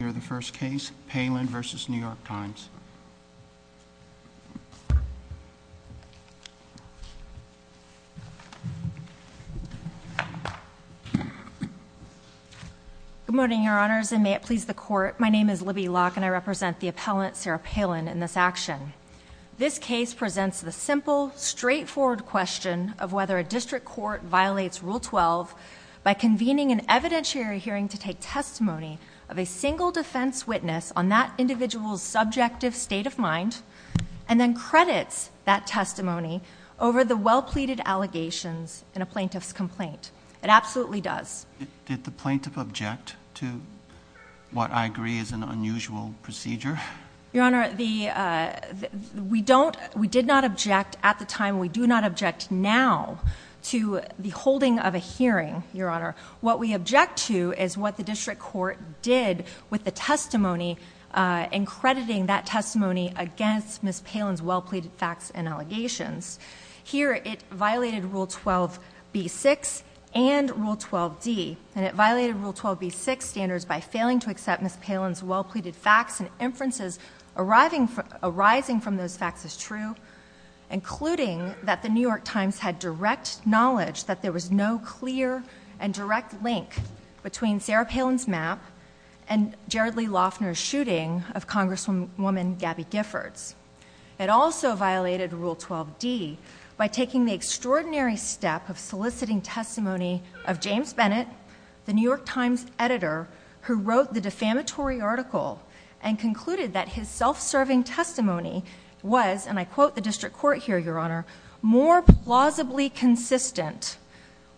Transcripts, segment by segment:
Good morning, Your Honors, and may it please the Court, my name is Libby Locke, and I represent the appellant, Sarah Palin, in this action. This case presents the simple, straightforward question of whether a district court violates Rule 12 by convening an evidentiary hearing to take testimony of a single defense witness on that individual's subjective state of mind and then credits that testimony over the well-pleaded allegations in a plaintiff's complaint. It absolutely does. Did the plaintiff object to what I agree is an unusual procedure? Your Honor, we did not object at the time. We do not object now to the holding of a hearing, Your Honor. What we object to is what the district court did with the testimony in crediting that testimony against Ms. Palin's well-pleaded facts and allegations. Here, it violated Rule 12b-6 and Rule 12d, and it violated Rule 12b-6 standards by failing to accept Ms. Palin's well-pleaded facts and inferences arising from those facts as true, including that the and direct link between Sarah Palin's map and Jared Lee Loeffner's shooting of Congresswoman Gabby Giffords. It also violated Rule 12d by taking the extraordinary step of soliciting testimony of James Bennett, the New York Times editor who wrote the defamatory article and concluded that his self-serving testimony was, and I quote the district court here, Your Honor, more plausibly consistent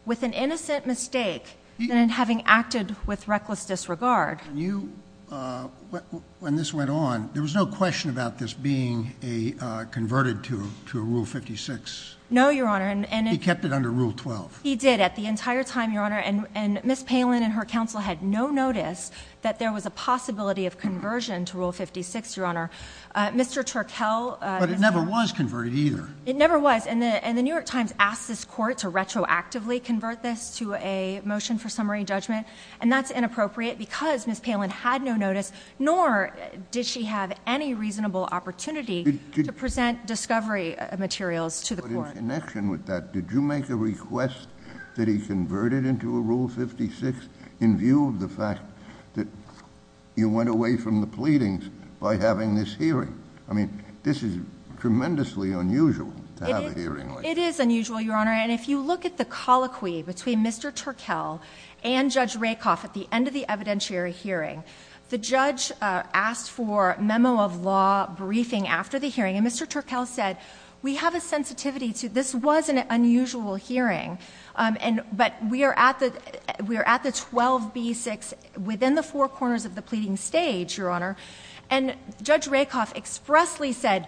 with an innocent mistake than in having acted with reckless disregard. When this went on, there was no question about this being converted to Rule 56? No, Your Honor. He kept it under Rule 12? He did at the entire time, Your Honor, and Ms. Palin and her counsel had no notice that there was a possibility of conversion to Rule 56, Your Honor. Mr. Turkel, But it never was converted either. It never was, and the New York Times asked this court to retroactively convert this to a motion for summary judgment, and that's inappropriate because Ms. Palin had no notice, nor did she have any reasonable opportunity to present discovery materials to the court. But in connection with that, did you make a request that he convert it into a Rule 56 in view of the fact that you went away from the pleadings by having this hearing? I mean, this is tremendously unusual to have a hearing like this. It is unusual, Your Honor, and if you look at the colloquy between Mr. Turkel and Judge Rakoff at the end of the evidentiary hearing, the judge asked for memo of law briefing after the hearing, and Mr. Turkel said, We have the 12B-6 within the four corners of the pleading stage, Your Honor, and Judge Rakoff expressly said,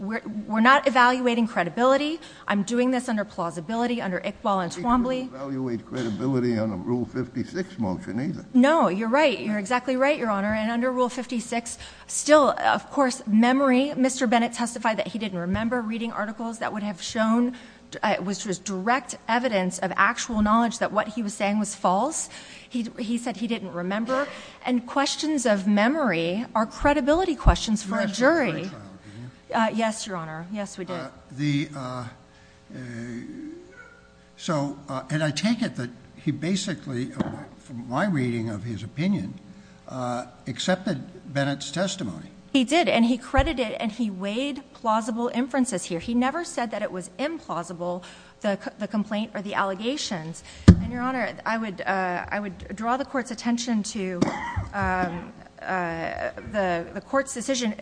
We're not evaluating credibility. I'm doing this under plausibility, under Iqbal and Twombly. He didn't evaluate credibility on a Rule 56 motion either. No, you're right. You're exactly right, Your Honor, and under Rule 56, still, of course, memory, Mr. Bennett testified that he didn't remember reading articles that would have shown, which was direct evidence of actual knowledge that what he was saying was false. He said he didn't remember, and questions of memory are credibility questions for a jury. You had a jury trial, didn't you? Yes, Your Honor. Yes, we did. So, and I take it that he basically, from my reading of his opinion, accepted Bennett's testimony. He did, and he credited, and he weighed plausible inferences here. He never said that it was implausible, the complaint or the allegations, and, Your Honor, I would draw the Court's attention to the Court's decision.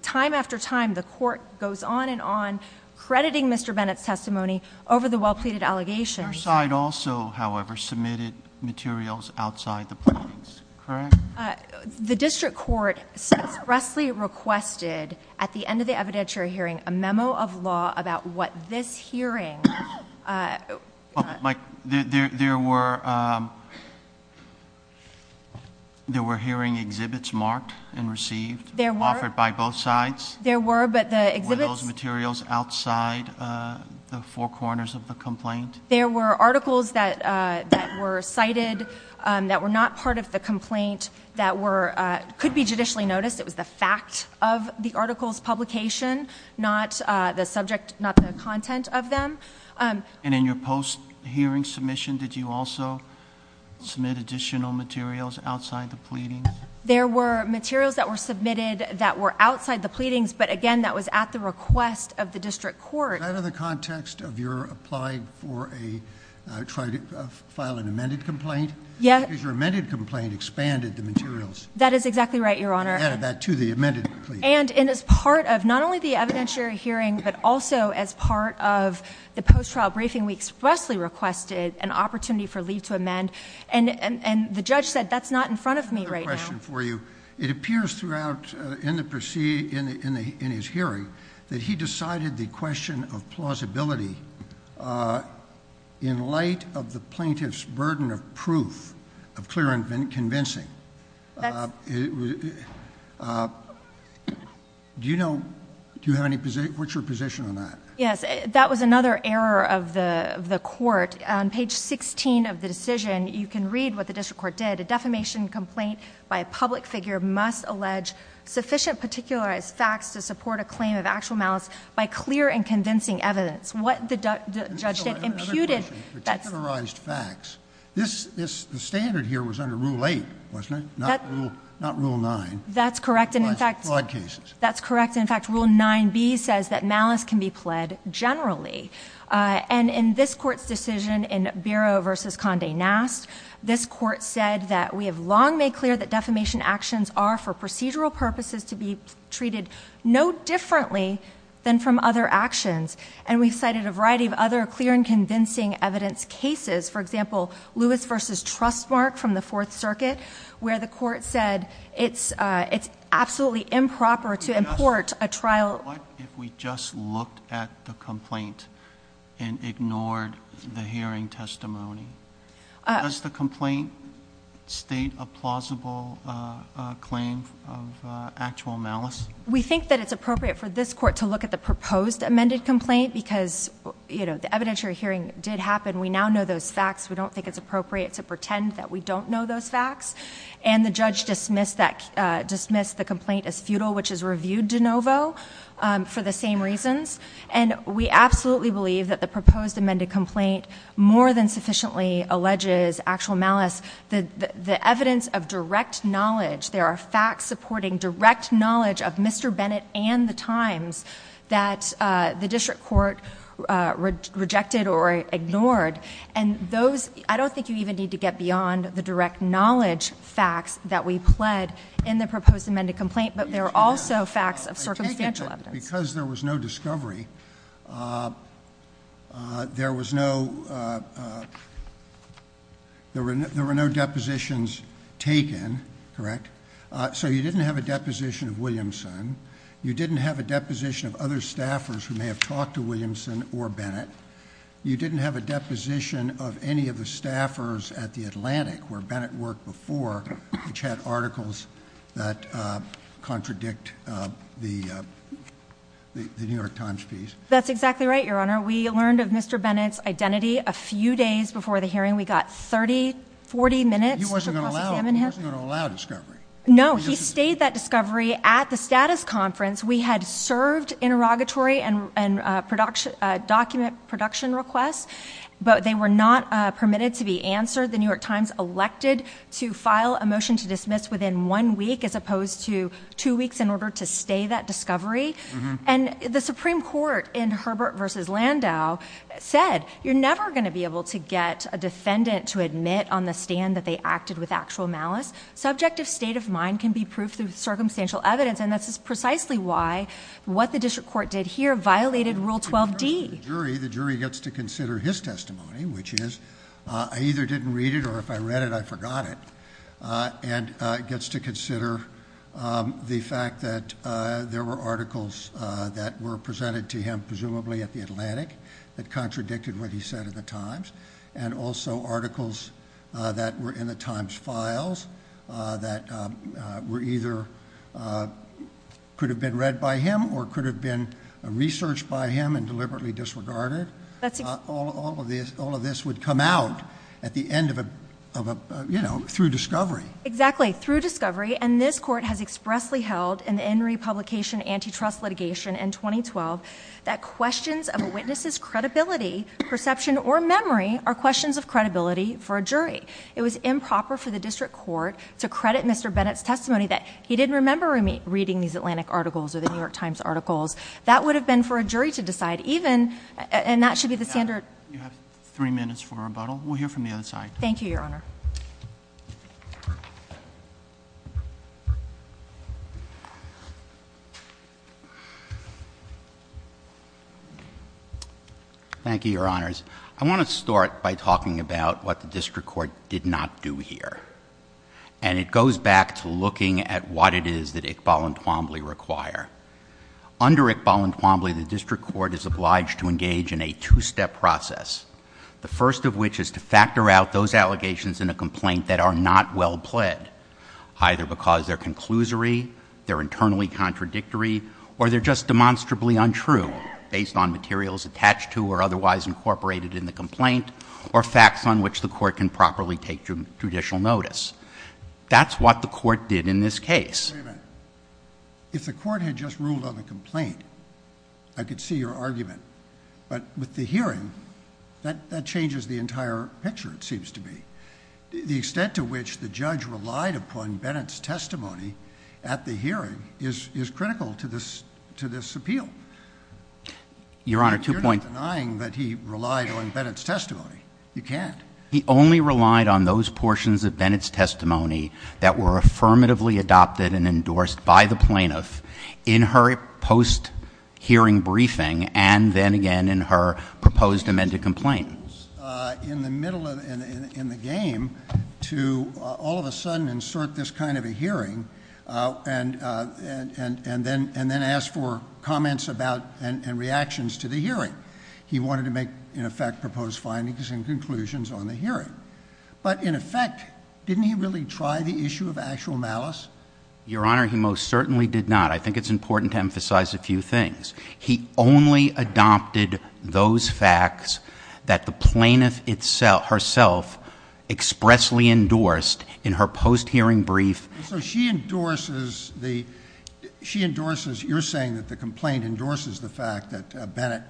Time after time, the Court goes on and on crediting Mr. Bennett's testimony over the well-pleaded allegations. Your side also, however, submitted materials outside the pleadings, correct? The District Court expressly requested, at the end of the evidentiary hearing, a memo of law about what this hearing... Mike, there were hearing exhibits marked and received, offered by both sides? There were, but the exhibits... Were those materials outside the four corners of the complaint? There were articles that were cited, that were not part of the complaint, that could be judicially noticed. It was the fact of the article's publication, not the content of them. And in your post-hearing submission, did you also submit additional materials outside the pleadings? There were materials that were submitted that were outside the pleadings, but again, that was at the request of the District Court. Is that in the context of your applying for a... trying to file an amended complaint? Yes. Because your amended complaint expanded the materials. That is exactly right, Your Honor. Add that to the amended complaint. And as part of not only the evidentiary hearing, but also as part of the post-trial briefing, we expressly requested an opportunity for leave to amend, and the judge said, that's not in front of me right now. I have another question for you. It appears throughout, in his hearing, that he decided the question of plausibility in light of the plaintiff's burden of proof, of clear and convincing. That's... Do you know... do you have any... what's your position on that? Yes. That was another error of the court. On page 16 of the decision, you can read what the District Court did. A defamation complaint by a public figure must allege sufficient particularized facts to support a claim of actual malice by clear and convincing evidence. What the judge did imputed... That's correct. And in fact, rule 9b says that malice can be pled generally. And in this Court's decision in Biro v. Conde Nast, this Court said that we have long made clear that defamation actions are, for procedural purposes, to be treated no differently than from other actions. And we've cited a variety of other clear and convincing evidence cases. For example, Lewis v. Trustmark from the Fourth Circuit, where the Court said it's absolutely improper to import a trial... What if we just looked at the complaint and ignored the hearing testimony? Does the complaint state a plausible claim of actual malice? We think that it's appropriate for this Court to look at the proposed amended complaint because the evidentiary hearing did happen. We now know those facts. We don't think it's appropriate to pretend that we don't know those facts. And the judge dismissed the complaint as futile, which is reviewed de novo for the same reasons. And we absolutely believe that the proposed amended complaint more than sufficiently alleges actual malice. The evidence of direct knowledge... There are facts supporting direct knowledge of Mr. Bennett and the Times that the District Court rejected or ignored. And those... I don't think you even need to get beyond the direct knowledge facts that we pled in the proposed amended complaint, but there are also facts of circumstantial evidence. Because there was no discovery, there were no depositions taken, correct? So you didn't have a deposition of Williamson. You didn't have a deposition of other staffers who may have talked to Williamson or Bennett. You didn't have a deposition of any of the staffers at The Atlantic, where Bennett worked before, which had articles that contradict the New York Times piece. That's exactly right, Your Honor. We learned of Mr. Bennett's identity a few days before the hearing. We got 30, 40 minutes to cross-examine him. He wasn't going to allow discovery. No. He stayed that discovery at the status conference. We had served interrogatory and document production requests, but they were not permitted to be answered. The New York Times elected to file a motion to dismiss within one week as opposed to two weeks in order to stay that discovery. And the Supreme Court in Herbert v. Landau said, you're never going to be able to get a defendant to admit on the stand that they acted with actual malice. Subjective state of mind can be proved through circumstantial evidence, and that's precisely why what the district court did here violated Rule 12D. The jury gets to consider his testimony, which is, I either didn't read it or if I read it, I forgot it, and gets to consider the fact that there were articles that were presented to him, presumably at The Atlantic, that contradicted what he said in the Times, and also articles that were in the Times files that were either, could have been read by him or could have been researched by him and deliberately disregarded. All of this would come out at the end of a, you know, through discovery. Exactly. Through discovery. And this court has expressly held in the Enry Publication Antitrust Litigation in 2012 that questions of a witness's credibility, perception, or memory are questions of credibility for a jury. It was improper for the district court to credit Mr. Bennett's testimony that he didn't remember reading these Atlantic articles or the New York Times articles. That would have been for a jury to decide, even, and that should be the standard. You have three minutes for rebuttal. We'll hear from the other side. Thank you, Your Honor. Thank you, Your Honors. I want to start by talking about what the district court did not do here, and it goes back to looking at what it is that Iqbal and Twombly require. Under Iqbal and Twombly, the district court is obliged to engage in a two-step process, the first of which is to factor out those allegations in a complaint that are not well-played, either because they're conclusory, they're internally contradictory, or they're just or facts on which the court can properly take judicial notice. That's what the court did in this case. Wait a minute. If the court had just ruled on the complaint, I could see your argument. But with the hearing, that changes the entire picture, it seems to me. The extent to which the judge relied upon Bennett's testimony at the hearing is critical to this appeal. Your Honor, two points. You can't be denying that he relied on Bennett's testimony. You can't. He only relied on those portions of Bennett's testimony that were affirmatively adopted and endorsed by the plaintiff in her post-hearing briefing, and then again in her proposed amended complaint. In the middle, in the game, to all of a sudden insert this kind of a hearing, and then ask for comments about and reactions to the hearing. He wanted to make, in effect, proposed findings and conclusions on the hearing. But in effect, didn't he really try the issue of actual malice? Your Honor, he most certainly did not. I think it's important to emphasize a few things. He only adopted those facts that the plaintiff herself expressly endorsed in her post-hearing brief. So she endorses, you're saying that the complaint endorses the fact that Bennett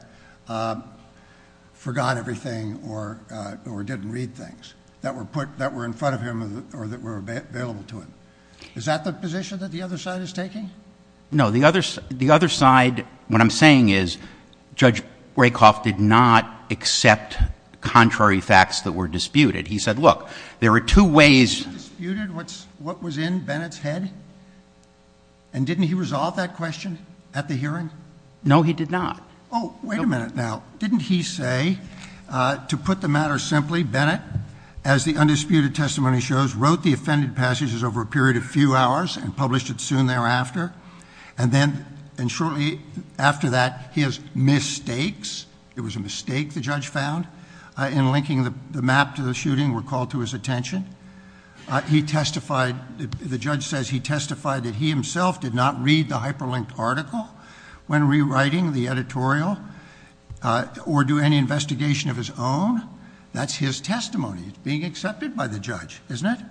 forgot everything or didn't read things that were in front of him or that were available to him. Is that the position that the other side is taking? No. The other side, what I'm saying is, Judge Rakoff did not accept contrary facts that were disputed. He said, look, there are two ways— What was in Bennett's head? And didn't he resolve that question at the hearing? No, he did not. Oh, wait a minute now. Didn't he say, to put the matter simply, Bennett, as the undisputed testimony shows, wrote the offended passages over a period of a few hours and published it soon thereafter? And then, shortly after that, his mistakes—it was a mistake the judge found in linking the map to the shooting—were called to his attention. He testified—the judge says he testified that he himself did not read the hyperlinked article when rewriting the editorial or do any investigation of his own. That's his testimony. It's being accepted by the judge, isn't it?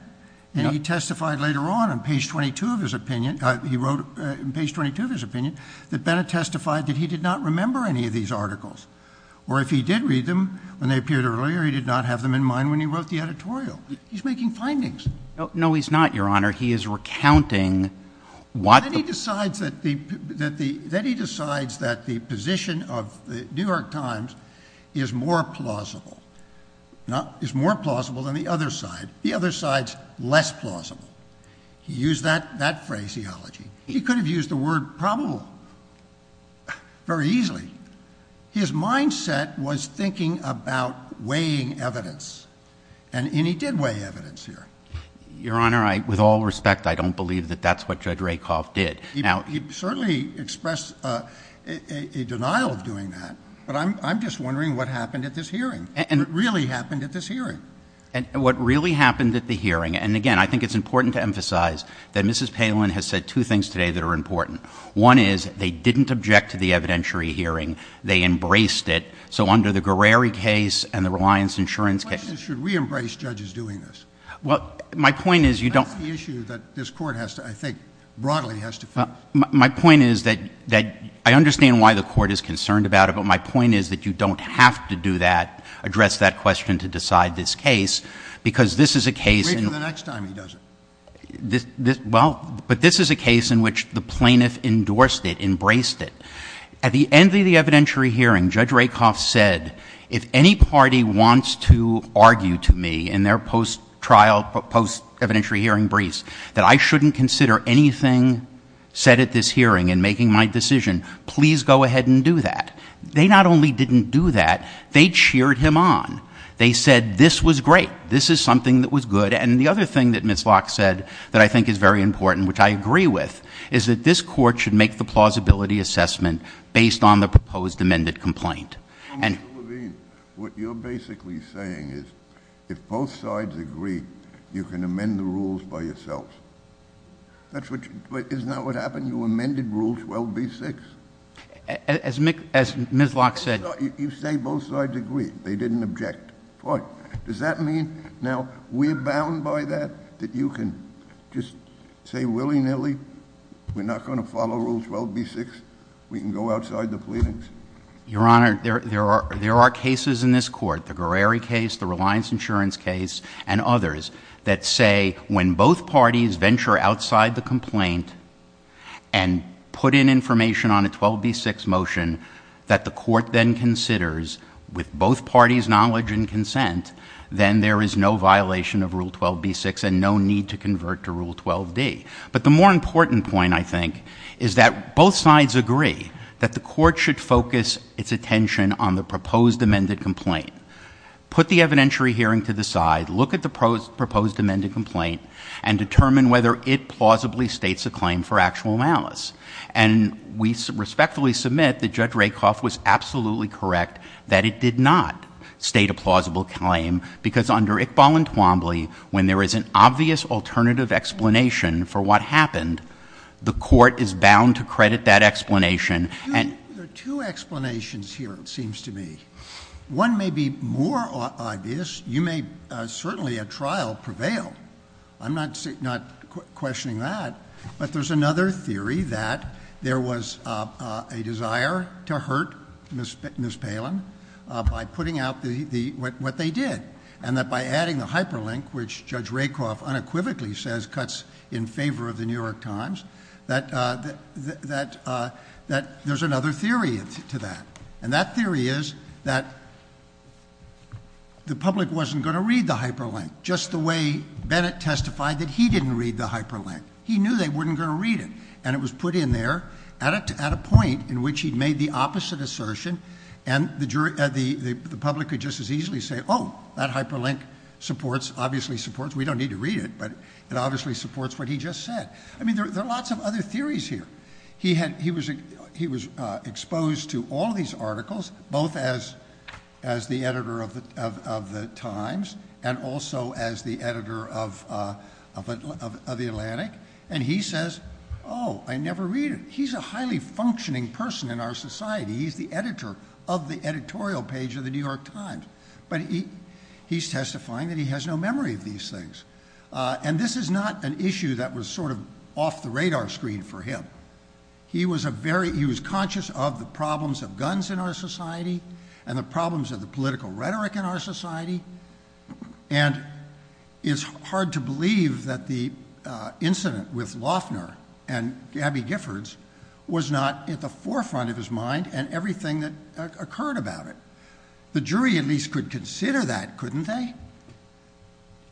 And he testified later on, on page 22 of his opinion—he wrote on page 22 of his opinion that Bennett testified that he did not remember any of these articles. Or if he did read them when they appeared earlier, he did not have them in mind when he wrote the editorial. He's making findings. No, he's not, Your Honor. He is recounting what— Then he decides that the position of the New York Times is more plausible than the other side. The other side's less plausible. He used that phraseology. He could have used the word probable very easily. His mindset was thinking about weighing evidence, and he did weigh evidence here. Your Honor, I—with all respect, I don't believe that that's what Judge Rakoff did. Now— He certainly expressed a denial of doing that, but I'm just wondering what happened at this hearing. And— What really happened at this hearing. And what really happened at the hearing—and again, I think it's important to emphasize that Mrs. Palin has said two things today that are important. One is, they didn't object to the evidentiary hearing. They embraced it. So under the Guerreri case and the Reliance Insurance case— My question is, should we embrace judges doing this? Well, my point is, you don't— That's the issue that this Court has to, I think, broadly has to face. My point is that I understand why the Court is concerned about it, but my point is that you don't have to do that, address that question to decide this case, because this is a case— Wait until the next time he does it. Well, but this is a case in which the plaintiff endorsed it, embraced it. At the end of the evidentiary hearing, Judge Rakoff said, if any party wants to argue to me in their post-trial, post-evidentiary hearing briefs, that I shouldn't consider anything said at this hearing in making my decision, please go ahead and do that. They not only didn't do that, they cheered him on. They said, this was great. This is something that was good. And the other thing that Ms. Locke said that I think is very important, which I agree with, is that this Court should make the plausibility assessment based on the proposed amended complaint. Well, Mr. Levine, what you're basically saying is, if both sides agree, you can amend the rules by yourselves. Isn't that what happened? You amended Rule 12b-6. As Ms. Locke said— You say both sides agree. They didn't object. Fine. Does that mean now we're bound to— We're bound by that? That you can just say willy-nilly, we're not going to follow Rule 12b-6? We can go outside the pleadings? Your Honor, there are cases in this Court, the Guerreri case, the Reliance Insurance case, and others, that say when both parties venture outside the complaint and put in information on a 12b-6 motion that the Court then considers with both parties' knowledge and consent, then there is no violation of Rule 12b-6 and no need to convert to Rule 12d. But the more important point, I think, is that both sides agree that the Court should focus its attention on the proposed amended complaint, put the evidentiary hearing to the side, look at the proposed amended complaint, and determine whether it plausibly states a claim for actual malice. And we respectfully submit that Judge Rakoff was absolutely correct that it did not state a plausible claim, because under Iqbal and Twombly, when there is an obvious alternative explanation for what happened, the Court is bound to credit that explanation. There are two explanations here, it seems to me. One may be more obvious. You may certainly, at trial, prevail. I'm not questioning that. But there's another theory that there was a desire to hurt Ms. Palin by putting out what they did, and that by adding the hyperlink, which Judge Rakoff unequivocally says cuts in favor of the New York Times, that there's another theory to that. And that theory is that the public wasn't going to read the hyperlink, just the way he knew they weren't going to read it. And it was put in there at a point in which he'd made the opposite assertion, and the public could just as easily say, oh, that hyperlink supports, obviously supports, we don't need to read it, but it obviously supports what he just said. I mean, there are lots of other theories here. He was exposed to all these articles, both as the editor of the Times, and also as the editor of Atlantic, and he says, oh, I never read it. He's a highly functioning person in our society. He's the editor of the editorial page of the New York Times. But he's testifying that he has no memory of these things. And this is not an issue that was sort of off the radar screen for him. He was a very, he was conscious of the problems of guns in our society, and the problems of the political rhetoric in our society. And it's hard to believe that the incident with Loeffner and Gabby Giffords was not at the forefront of his mind and everything that occurred about it. The jury at least could consider that, couldn't they?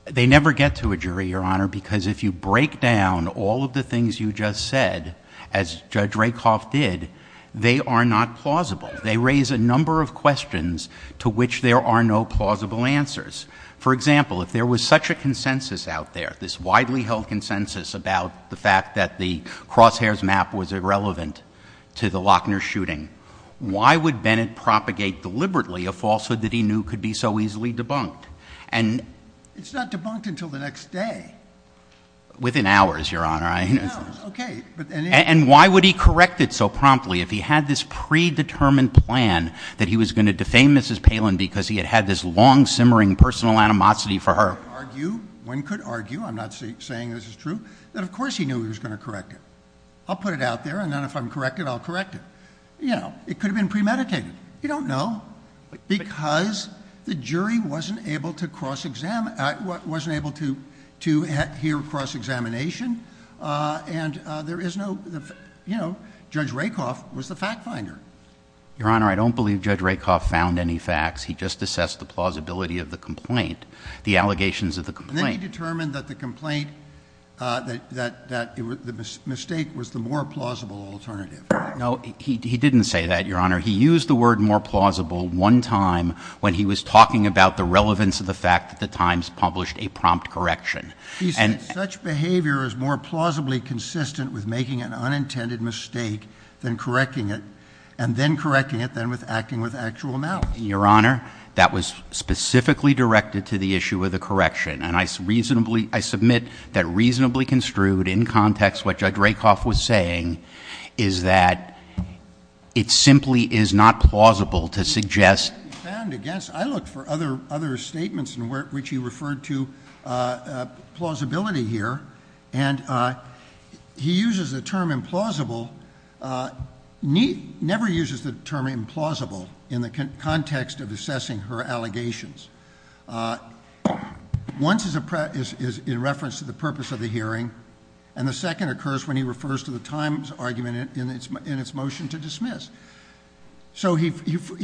They never get to a jury, Your Honor, because if you break down all of the things you just said, as Judge Rakoff did, they are not plausible. They raise a number of questions to which there are no plausible answers. For example, if there was such a consensus out there, this widely held consensus about the fact that the Crosshairs map was irrelevant to the Loeffner shooting, why would Bennett propagate deliberately a falsehood that he knew could be so easily debunked? And it's not debunked until the next day. Within hours, Your Honor. And why would he correct it so promptly? If he had this predetermined plan that he was going to defame Mrs. Palin because he had had this long-simmering personal animosity for her? One could argue, I'm not saying this is true, that of course he knew he was going to correct it. I'll put it out there, and then if I'm corrected, I'll correct it. It could have been premeditated. You don't know, because the jury wasn't able to hear cross-examination, and there is no You know, Judge Rakoff was the fact finder. Your Honor, I don't believe Judge Rakoff found any facts. He just assessed the plausibility of the complaint, the allegations of the complaint. And then he determined that the complaint, that the mistake was the more plausible alternative. No, he didn't say that, Your Honor. He used the word more plausible one time when he was talking about the relevance of the fact that the Times published a prompt correction. He said such behavior is more plausibly consistent with making an unintended mistake than correcting it, and then correcting it then with acting with actual malice. Your Honor, that was specifically directed to the issue of the correction. And I submit that reasonably construed in context what Judge Rakoff was saying is that it simply is not plausible to suggest I looked for other statements in which he referred to plausibility here, and he uses the term implausible, never uses the term implausible in the context of assessing her allegations. One is in reference to the purpose of the hearing, and the second occurs when he refers So he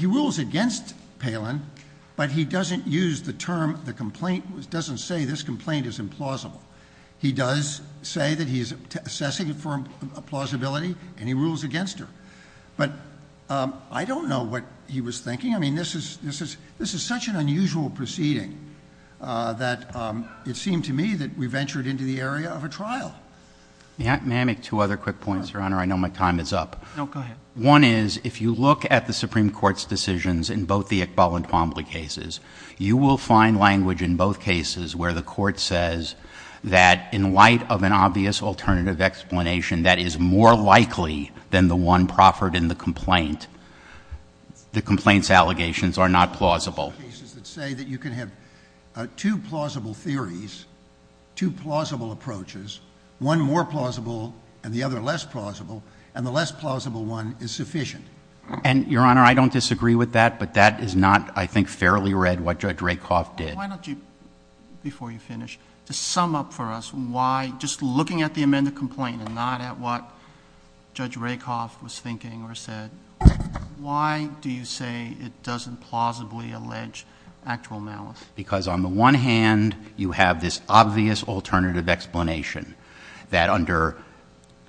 rules against Palin, but he doesn't use the term, the complaint, doesn't say this complaint is implausible. He does say that he is assessing it for a plausibility, and he rules against her. But I don't know what he was thinking. I mean, this is such an unusual proceeding that it seemed to me that we ventured into the area of a trial. May I make two other quick points, Your Honor? I know my time is up. No, go ahead. One is, if you look at the Supreme Court's decisions in both the Iqbal and Twombly cases, you will find language in both cases where the court says that in light of an obvious alternative explanation that is more likely than the one proffered in the complaint, the complaint's allegations are not plausible. There are cases that say that you can have two plausible theories, two plausible approaches, one more plausible and the other less plausible, and the less plausible one is sufficient. And Your Honor, I don't disagree with that, but that is not, I think, fairly read what Judge Rakoff did. Why don't you, before you finish, just sum up for us why, just looking at the amended complaint and not at what Judge Rakoff was thinking or said, why do you say it doesn't plausibly allege actual malice? Because on the one hand, you have this obvious alternative explanation that under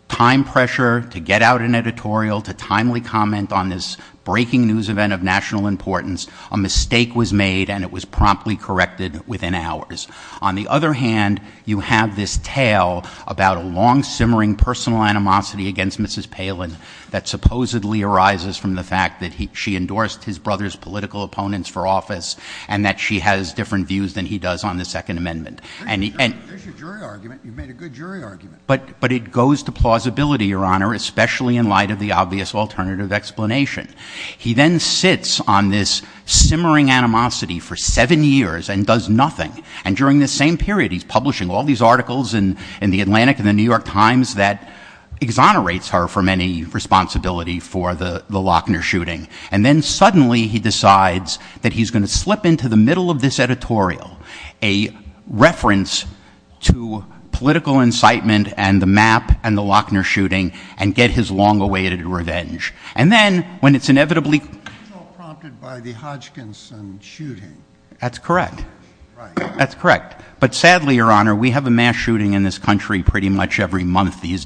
time pressure to get out an editorial, to timely comment on this breaking news event of national importance, a mistake was made and it was promptly corrected within hours. On the other hand, you have this tale about a long-simmering personal animosity against Mrs. Palin that supposedly arises from the fact that she endorsed his brother's political opponents for office and that she has different views than he does on the Second Amendment. There's your jury argument. You've made a good jury argument. But it goes to plausibility, Your Honor, especially in light of the obvious alternative explanation. He then sits on this simmering animosity for seven years and does nothing. And during this same period, he's publishing all these articles in the Atlantic and the New York Times that exonerates her from any responsibility for the Lochner shooting. And then suddenly, he decides that he's going to slip into the middle of this editorial a reference to political incitement and the MAP and the Lochner shooting and get his long-awaited revenge. And then, when it's inevitably- It's all prompted by the Hodgkinson shooting. That's correct. Right. That's correct. But sadly, Your Honor, we have a mass shooting in this country pretty much every month these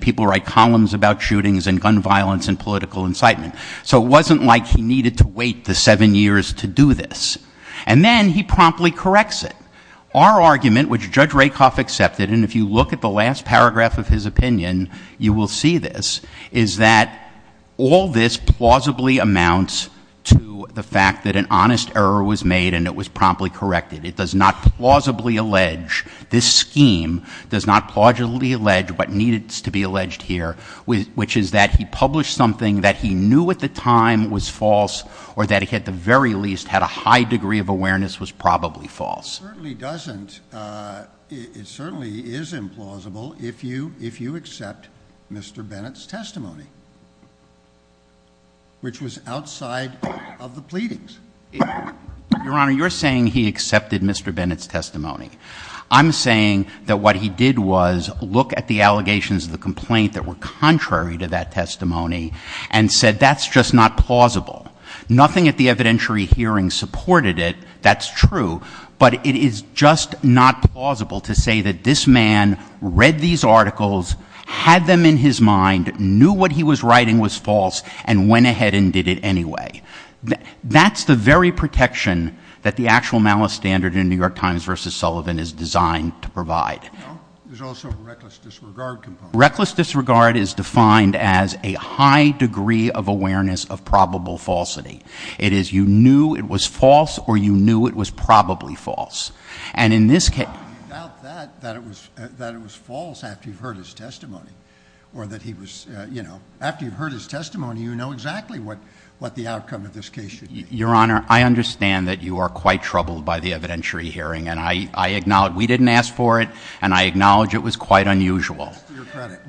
people write columns about shootings and gun violence and political incitement. So it wasn't like he needed to wait the seven years to do this. And then he promptly corrects it. Our argument, which Judge Rakoff accepted, and if you look at the last paragraph of his opinion, you will see this, is that all this plausibly amounts to the fact that an honest error was made and it was promptly corrected. It does not plausibly allege, this scheme does not plausibly allege what needs to be alleged here, which is that he published something that he knew at the time was false or that he, at the very least, had a high degree of awareness was probably false. It certainly doesn't. It certainly is implausible if you accept Mr. Bennett's testimony, which was outside of the pleadings. Your Honor, you're saying he accepted Mr. Bennett's testimony. I'm saying that what he did was look at the allegations of the complaint that were contrary to that testimony and said, that's just not plausible. Nothing at the evidentiary hearing supported it. That's true. But it is just not plausible to say that this man read these articles, had them in his mind, knew what he was writing was false and went ahead and did it anyway. That's the very protection that the actual malice standard in New York Times versus Sullivan is designed to provide. There's also a reckless disregard component. Reckless disregard is defined as a high degree of awareness of probable falsity. It is, you knew it was false or you knew it was probably false. And in this case- You doubt that, that it was false after you've heard his testimony or that he was, you know, after you've heard his testimony, you know exactly what the outcome of this case should be. Your Honor, I understand that you are quite troubled by the evidentiary hearing. And I acknowledge we didn't ask for it, and I acknowledge it was quite unusual.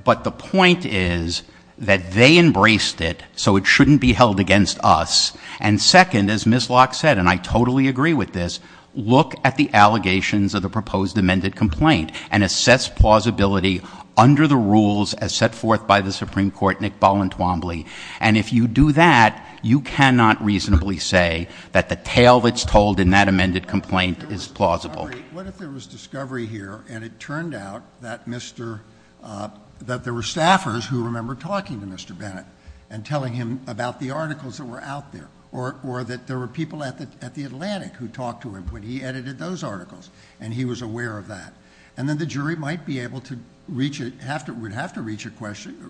But the point is that they embraced it, so it shouldn't be held against us. And second, as Ms. Locke said, and I totally agree with this, look at the allegations of the proposed amended complaint. And assess plausibility under the rules as set forth by the Supreme Court, Nick Balentwombly. And if you do that, you cannot reasonably say that the tale that's told in that amended complaint is plausible. What if there was discovery here, and it turned out that there were staffers who remember talking to Mr. Bennett and telling him about the articles that were out there. Or that there were people at the Atlantic who talked to him when he edited those articles, and he was aware of that. And then the jury would have to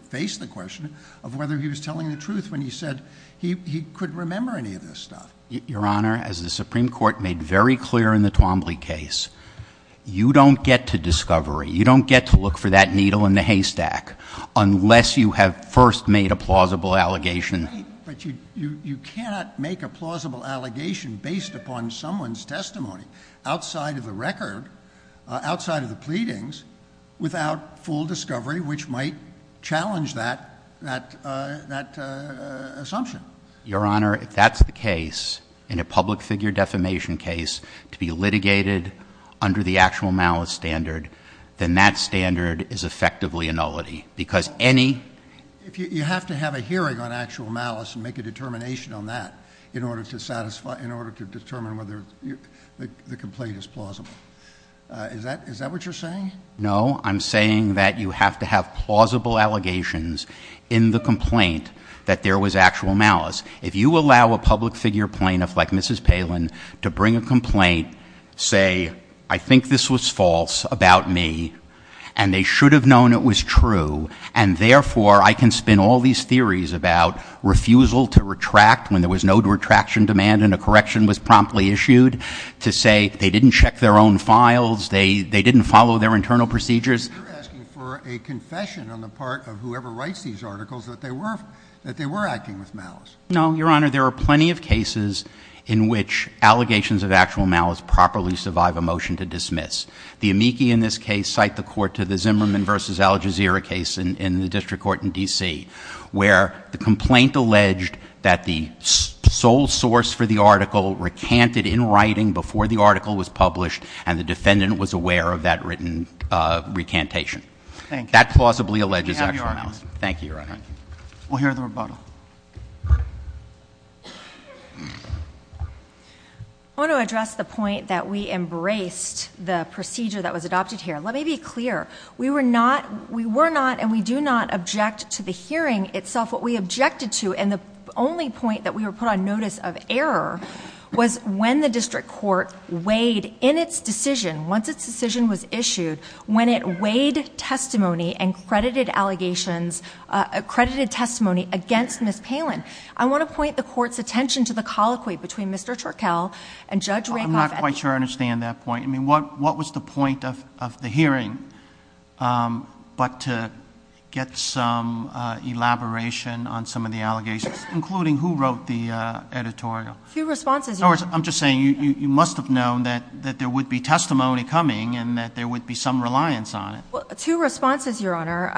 face the question of whether he was telling the truth when he said he couldn't remember any of this stuff. Your Honor, as the Supreme Court made very clear in the Twombly case, you don't get to discovery. You don't get to look for that needle in the haystack, unless you have first made a plausible allegation. But you cannot make a plausible allegation based upon someone's testimony. Outside of the record, outside of the pleadings, without full discovery, which might challenge that assumption. Your Honor, if that's the case, in a public figure defamation case, to be litigated under the actual malice standard, then that standard is effectively a nullity. Because any, if you have to have a hearing on actual malice and make a determination on that. In order to satisfy, in order to determine whether the complaint is plausible, is that what you're saying? No, I'm saying that you have to have plausible allegations in the complaint that there was actual malice. If you allow a public figure plaintiff like Mrs. Palin to bring a complaint, say I think this was false about me, and they should have known it was true. And therefore, I can spin all these theories about refusal to retract when there was no retraction demand and a correction was promptly issued, to say they didn't check their own files, they didn't follow their internal procedures. You're asking for a confession on the part of whoever writes these articles that they were acting with malice. No, Your Honor, there are plenty of cases in which allegations of actual malice properly survive a motion to dismiss. The amici in this case cite the court to the Zimmerman versus Al Jazeera case in the district court in DC. Where the complaint alleged that the sole source for the article recanted in writing before the article was published, and the defendant was aware of that written recantation. That plausibly alleges actual malice. Thank you, Your Honor. We'll hear the rebuttal. I want to address the point that we embraced the procedure that was adopted here. Let me be clear, we were not and we do not object to the hearing itself. What we objected to, and the only point that we were put on notice of error, was when the district court weighed in its decision, once its decision was issued, when it weighed testimony and credited allegations, accredited testimony against Ms. Palin. I want to point the court's attention to the colloquy between Mr. Turkel and Judge Rakoff. I'm not quite sure I understand that point. I mean, what was the point of the hearing but to get some elaboration on some of the allegations, including who wrote the editorial? A few responses, Your Honor. In other words, I'm just saying, you must have known that there would be testimony coming and that there would be some reliance on it. Two responses, Your Honor.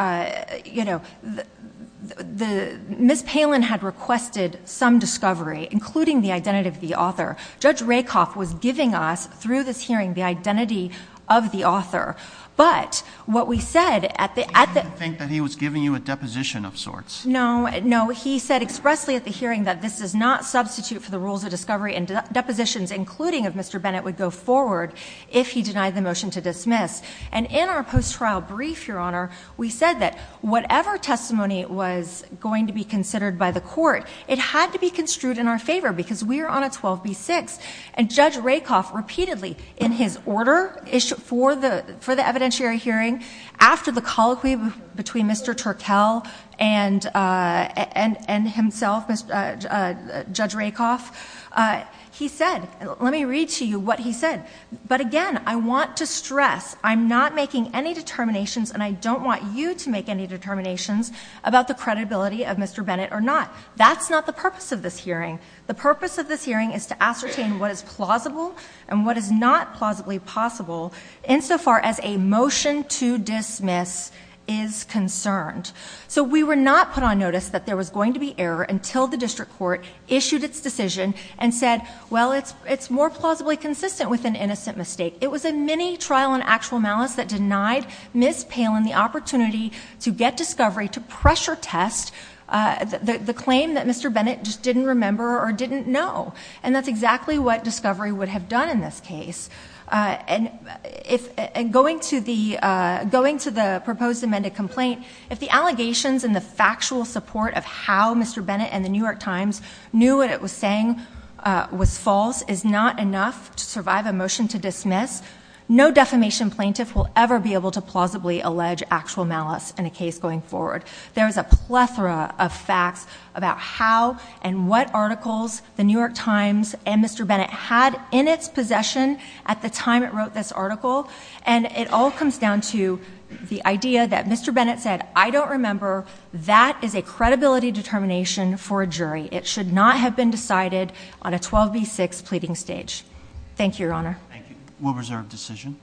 Ms. Palin had requested some discovery, including the identity of the author. Judge Rakoff was giving us, through this hearing, the identity of the author. But what we said at the- I think that he was giving you a deposition of sorts. No, no, he said expressly at the hearing that this does not substitute for the rules of discovery and depositions, including of Mr. Bennett, would go forward if he denied the motion to dismiss. And in our post-trial brief, Your Honor, we said that whatever testimony was going to be considered by the court, it had to be construed in our favor because we are on a 12B6. And Judge Rakoff repeatedly, in his order for the evidentiary hearing, after the colloquy between Mr. Turkel and himself, Judge Rakoff, he said, let me read to you what he said. But again, I want to stress, I'm not making any determinations, and I don't want you to make any determinations about the credibility of Mr. Bennett or not. That's not the purpose of this hearing. The purpose of this hearing is to ascertain what is plausible and what is not plausibly possible, insofar as a motion to dismiss is concerned. So we were not put on notice that there was going to be error until the district court issued its decision and said, well, it's more plausibly consistent with an innocent mistake. It was a mini trial on actual malice that denied Ms. Palin the opportunity to get discovery, to pressure test the claim that Mr. Bennett just didn't remember or didn't know. And that's exactly what discovery would have done in this case. And going to the proposed amended complaint, if the allegations and the factual support of how Mr. Bennett and the New York Times knew what it was saying was false is not enough to survive a motion to dismiss, no defamation plaintiff will ever be able to plausibly allege actual malice in a case going forward. There is a plethora of facts about how and what articles the New York Times and at the time it wrote this article, and it all comes down to the idea that Mr. Bennett said, I don't remember, that is a credibility determination for a jury. It should not have been decided on a 12B6 pleading stage. Thank you, Your Honor. Thank you. We'll reserve decision.